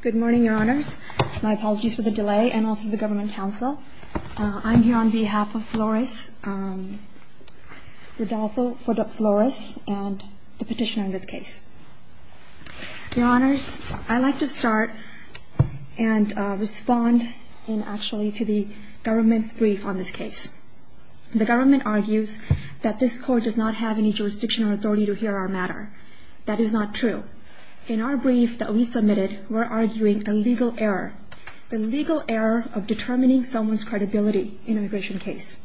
Good morning, your honors. My apologies for the delay and also the government counsel. I'm here on behalf of Flores, Rodolfo Flores, and the petitioner in this case. Your honors, I'd like to start and respond actually to the government's brief on this case. The government argues that this court does not have any jurisdiction or authority to hear our matter. That is not true. In our brief that we submitted, we're arguing a legal error. The legal error of determining someone's credibility in an immigration case.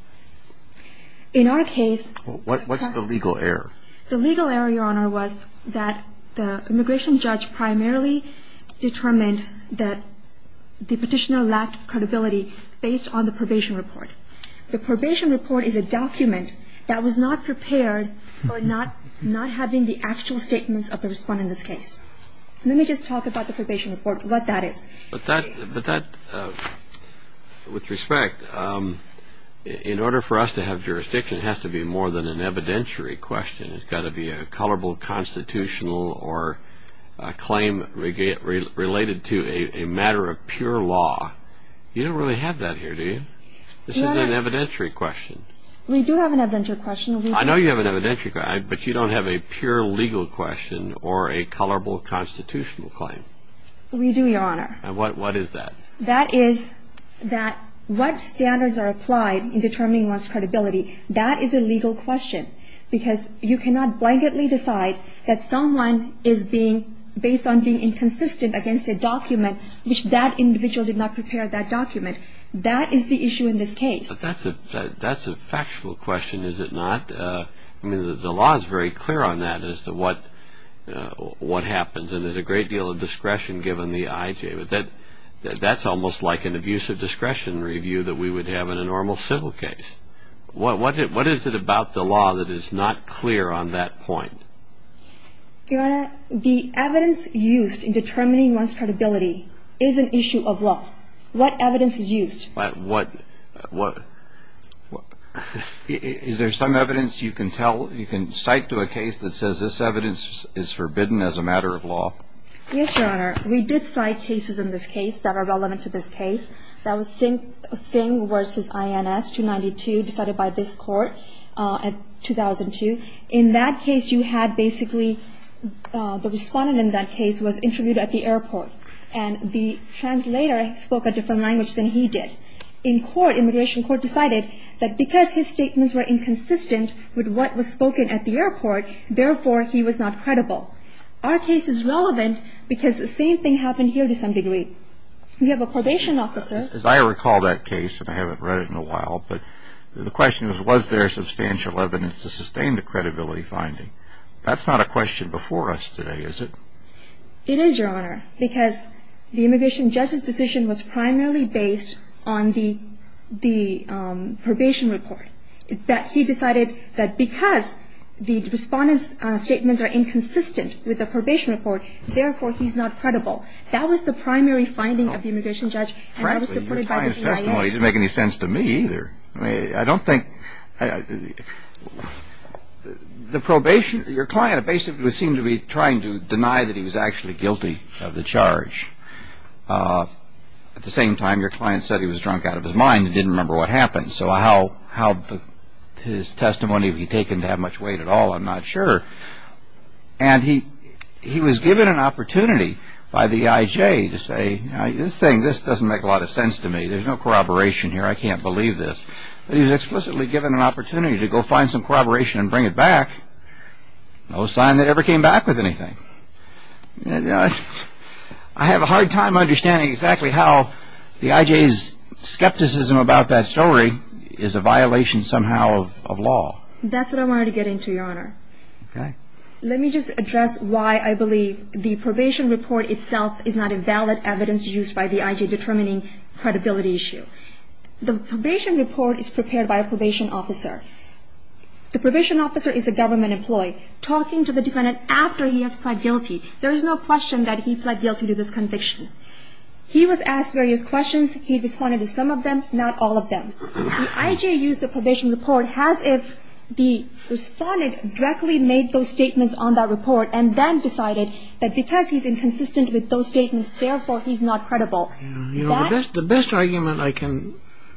In our case... What's the legal error? The legal error, your honor, was that the immigration judge primarily determined that the petitioner lacked credibility based on the probation report. The probation report is a document that was not prepared for not having the actual statements of the respondent in this case. Let me just talk about the probation report, what that is. But that, with respect, in order for us to have jurisdiction, it has to be more than an evidentiary question. It's got to be a colorable constitutional or a claim related to a matter of pure law. You don't really have that here, do you? This is an evidentiary question. We do have an evidentiary question. I know you have an evidentiary question, but you don't have a pure legal question or a colorable constitutional claim. We do, your honor. And what is that? That is that what standards are applied in determining one's credibility, that is a legal question. Because you cannot blanketly decide that someone is being, based on being inconsistent against a document which that individual did not prepare that document. That is the issue in this case. But that's a factual question, is it not? I mean, the law is very clear on that as to what happens. And there's a great deal of discretion given the IJ. But that's almost like an abusive discretion review that we would have in a normal civil case. What is it about the law that is not clear on that point? Your honor, the evidence used in determining one's credibility is an issue of law. What evidence is used? Is there some evidence you can tell, you can cite to a case that says this evidence is forbidden as a matter of law? Yes, your honor. We did cite cases in this case that are relevant to this case. That was Singh v. INS 292 decided by this Court in 2002. In that case, you had basically, the respondent in that case was interviewed at the airport. And the translator spoke a different language than he did. In court, immigration court decided that because his statements were inconsistent with what was spoken at the airport, therefore, he was not credible. Our case is relevant because the same thing happened here to some degree. We have a probation officer. As I recall that case, and I haven't read it in a while, but the question was, was there substantial evidence to sustain the credibility finding? That's not a question before us today, is it? It is, your honor. Because the immigration judge's decision was primarily based on the probation report. He decided that because the respondent's statements are inconsistent with the probation report, therefore, he's not credible. That was the primary finding of the immigration judge. Frankly, your client's testimony didn't make any sense to me either. I mean, I don't think, the probation, your client basically seemed to be trying to deny that he was actually guilty of the charge. At the same time, your client said he was drunk out of his mind and didn't remember what happened. So how his testimony would be taken to have much weight at all, I'm not sure. And he was given an opportunity by the IJ to say, this thing, this doesn't make a lot of sense to me. There's no corroboration here. I can't believe this. But he was explicitly given an opportunity to go find some corroboration and bring it back. No sign that it ever came back with anything. I have a hard time understanding exactly how the IJ's skepticism about that story is a violation somehow of law. That's what I wanted to get into, your honor. Okay. Let me just address why I believe the probation report itself is not a valid evidence used by the IJ determining credibility issue. The probation report is prepared by a probation officer. The probation officer is a government employee talking to the defendant after he has pled guilty. There is no question that he pled guilty to this conviction. He was asked various questions. He responded to some of them, not all of them. The IJ used the probation report as if the respondent directly made those statements on that report and then decided that because he's inconsistent with those statements, therefore he's not credible. The best argument I can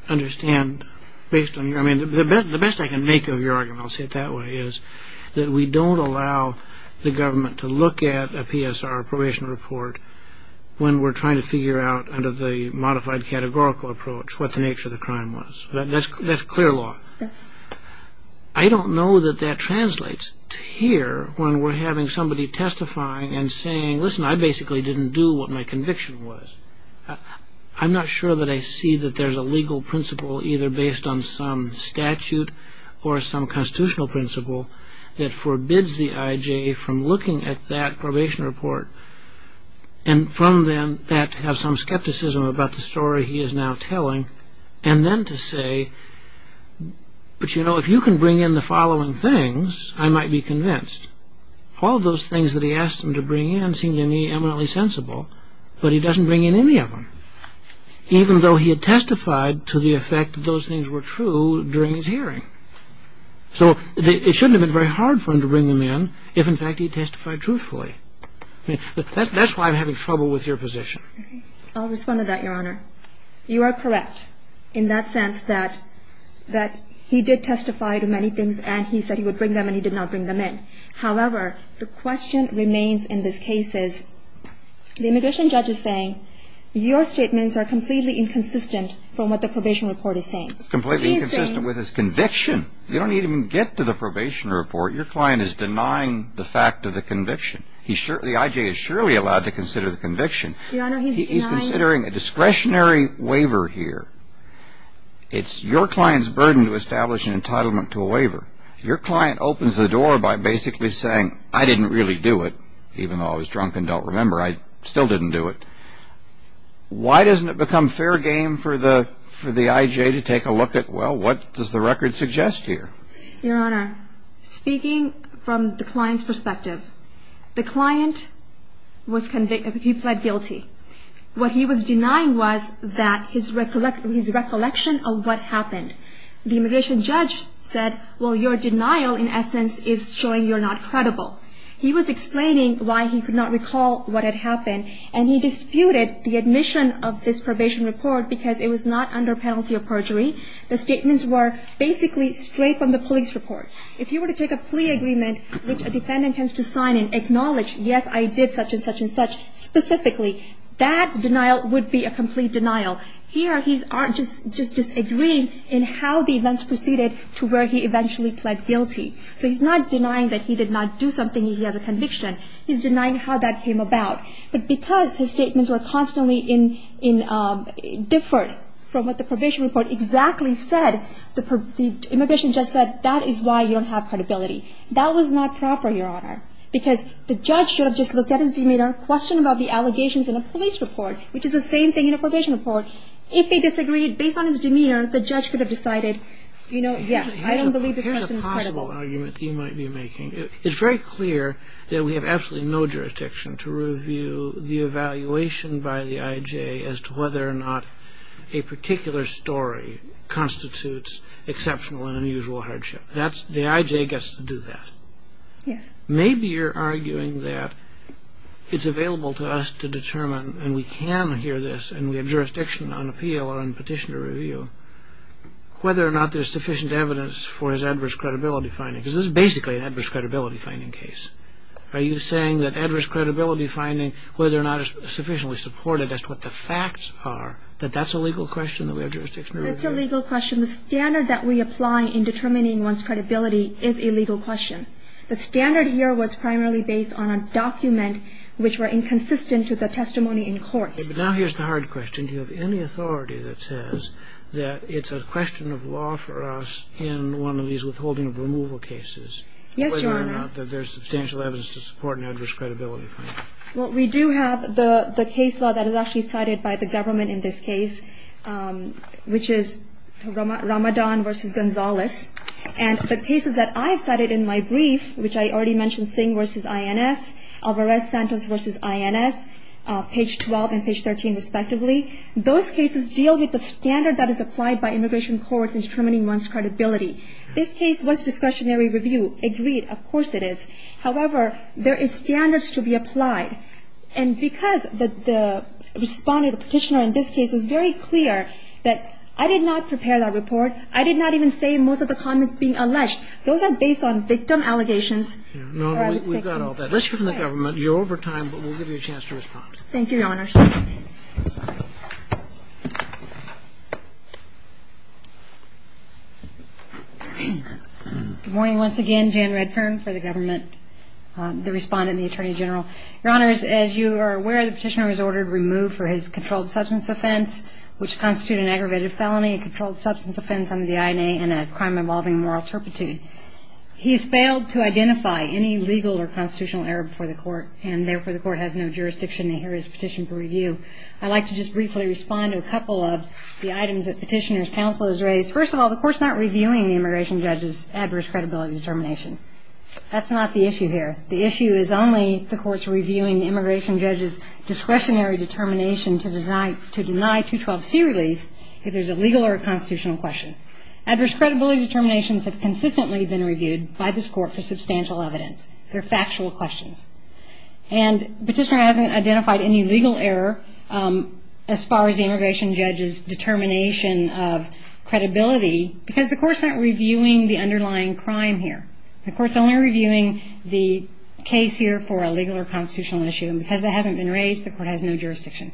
understand based on your argument, the best I can make of your argument, I'll say it that way, is that we don't allow the government to look at a PSR, a probation report, when we're trying to figure out under the modified categorical approach what the nature of the crime was. That's clear law. I don't know that that translates to here when we're having somebody testifying and saying, listen, I basically didn't do what my conviction was. I'm not sure that I see that there's a legal principle either based on some statute or some constitutional principle that forbids the IJ from looking at that probation report and from then to have some skepticism about the story he is now telling and then to say, but, you know, if you can bring in the following things, I might be convinced. All of those things that he asked him to bring in seemed eminently sensible, but he doesn't bring in any of them, even though he had testified to the effect that those things were true during his hearing. So it shouldn't have been very hard for him to bring them in if, in fact, he testified truthfully. That's why I'm having trouble with your position. I'll respond to that, Your Honor. You are correct in that sense that he did testify to many things and he said he would bring them and he did not bring them in. However, the question remains in this case is the immigration judge is saying your statements are completely inconsistent from what the probation report is saying. Completely inconsistent with his conviction. You don't even get to the probation report. Your client is denying the fact of the conviction. The IJ is surely allowed to consider the conviction. Your Honor, he's denying... He's considering a discretionary waiver here. It's your client's burden to establish an entitlement to a waiver. Your client opens the door by basically saying, I didn't really do it, even though I was drunk and don't remember. I still didn't do it. Why doesn't it become fair game for the IJ to take a look at, well, what does the record suggest here? Your Honor, speaking from the client's perspective, the client, he pled guilty. What he was denying was that his recollection of what happened. The immigration judge said, well, your denial, in essence, is showing you're not credible. He was explaining why he could not recall what had happened, and he disputed the admission of this probation report because it was not under penalty of perjury. The statements were basically straight from the police report. If you were to take a plea agreement, which a defendant has to sign and acknowledge, yes, I did such and such and such, specifically, that denial would be a complete denial. Here, he's just disagreeing in how the events proceeded to where he eventually pled guilty. So he's not denying that he did not do something. He has a conviction. He's denying how that came about. But because his statements were constantly differed from what the probation report exactly said, the immigration judge said, that is why you don't have credibility. That was not proper, Your Honor, because the judge should have just looked at his demeanor, questioned about the allegations in a police report, which is the same thing in a probation report. If he disagreed, based on his demeanor, the judge could have decided, you know, yes, I don't believe this person is credible. Here's a possible argument that you might be making. It's very clear that we have absolutely no jurisdiction to review the evaluation by the IJ as to whether or not a particular story constitutes exceptional and unusual hardship. The IJ gets to do that. Yes. Maybe you're arguing that it's available to us to determine, and we can hear this and we have jurisdiction on appeal or on petition to review, whether or not there's sufficient evidence for his adverse credibility finding, because this is basically an adverse credibility finding case. Are you saying that adverse credibility finding, whether or not it's sufficiently supported, as to what the facts are, that that's a legal question that we have jurisdiction to review? That's a legal question. The standard that we apply in determining one's credibility is a legal question. The standard here was primarily based on a document which were inconsistent with the testimony in court. But now here's the hard question. Do you have any authority that says that it's a question of law for us in one of these withholding of removal cases? Yes, Your Honor. Whether or not there's substantial evidence to support an adverse credibility finding. Well, we do have the case law that is actually cited by the government in this case, which is Ramadan v. Gonzales. And the cases that I've cited in my brief, which I already mentioned, Singh v. INS, Alvarez-Santos v. INS, page 12 and page 13, respectively, those cases deal with the standard that is applied by immigration courts in determining one's credibility. This case was discretionary review. Agreed. Of course it is. However, there is standards to be applied. And because the respondent or petitioner in this case was very clear that I did not prepare that report, I did not even say most of the comments being alleged, those are based on victim allegations. No, we've got all that. It's from the government. You're over time, but we'll give you a chance to respond. Thank you, Your Honors. Good morning once again. Jan Redfern for the government, the respondent and the Attorney General. Your Honors, as you are aware, the petitioner was ordered removed for his controlled substance offense, which constitutes an aggravated felony, a controlled substance offense under the INA, and a crime involving moral turpitude. He has failed to identify any legal or constitutional error before the court, and therefore the court has no jurisdiction to hear his petition for review. I'd like to just briefly respond to a couple of the items that petitioner's counsel has raised. First of all, the court's not reviewing the immigration judge's adverse credibility determination. That's not the issue here. The issue is only the court's reviewing the immigration judge's discretionary determination to deny 212C relief if there's a legal or a constitutional question. Adverse credibility determinations have consistently been reviewed by this court for substantial evidence. They're factual questions. And petitioner hasn't identified any legal error as far as the immigration judge's determination of credibility because the court's not reviewing the underlying crime here. The court's only reviewing the case here for a legal or constitutional issue, and because that hasn't been raised, the court has no jurisdiction.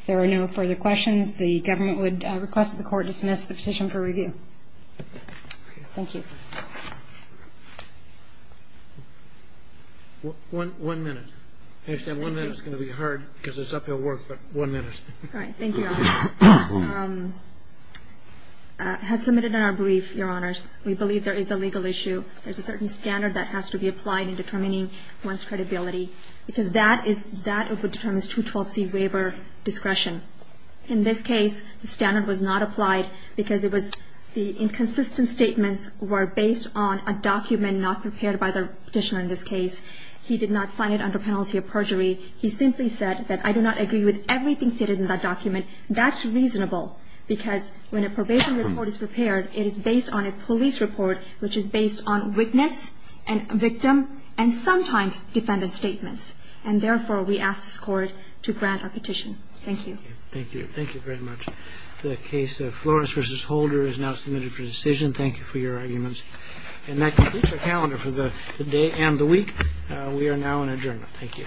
If there are no further questions, the government would request that the court dismiss the petition for review. Thank you. One minute. I understand one minute is going to be hard because it's uphill work, but one minute. All right. Thank you, Your Honor. As submitted in our brief, Your Honors, we believe there is a legal issue. There's a certain standard that has to be applied in determining one's credibility because that is what determines 212C waiver discretion. In this case, the standard was not applied because it was the inconsistent statements were based on a document not prepared by the petitioner in this case. He did not sign it under penalty of perjury. He simply said that I do not agree with everything stated in that document. That's reasonable because when a probation report is prepared, it is based on a police report, which is based on witness and victim and sometimes defendant statements. And therefore, we ask this Court to grant our petition. Thank you. Thank you. Thank you very much. The case of Flores v. Holder is now submitted for decision. Thank you for your arguments. And that concludes our calendar for the day and the week. We are now in adjournment. Thank you. All rise. The session is adjourned.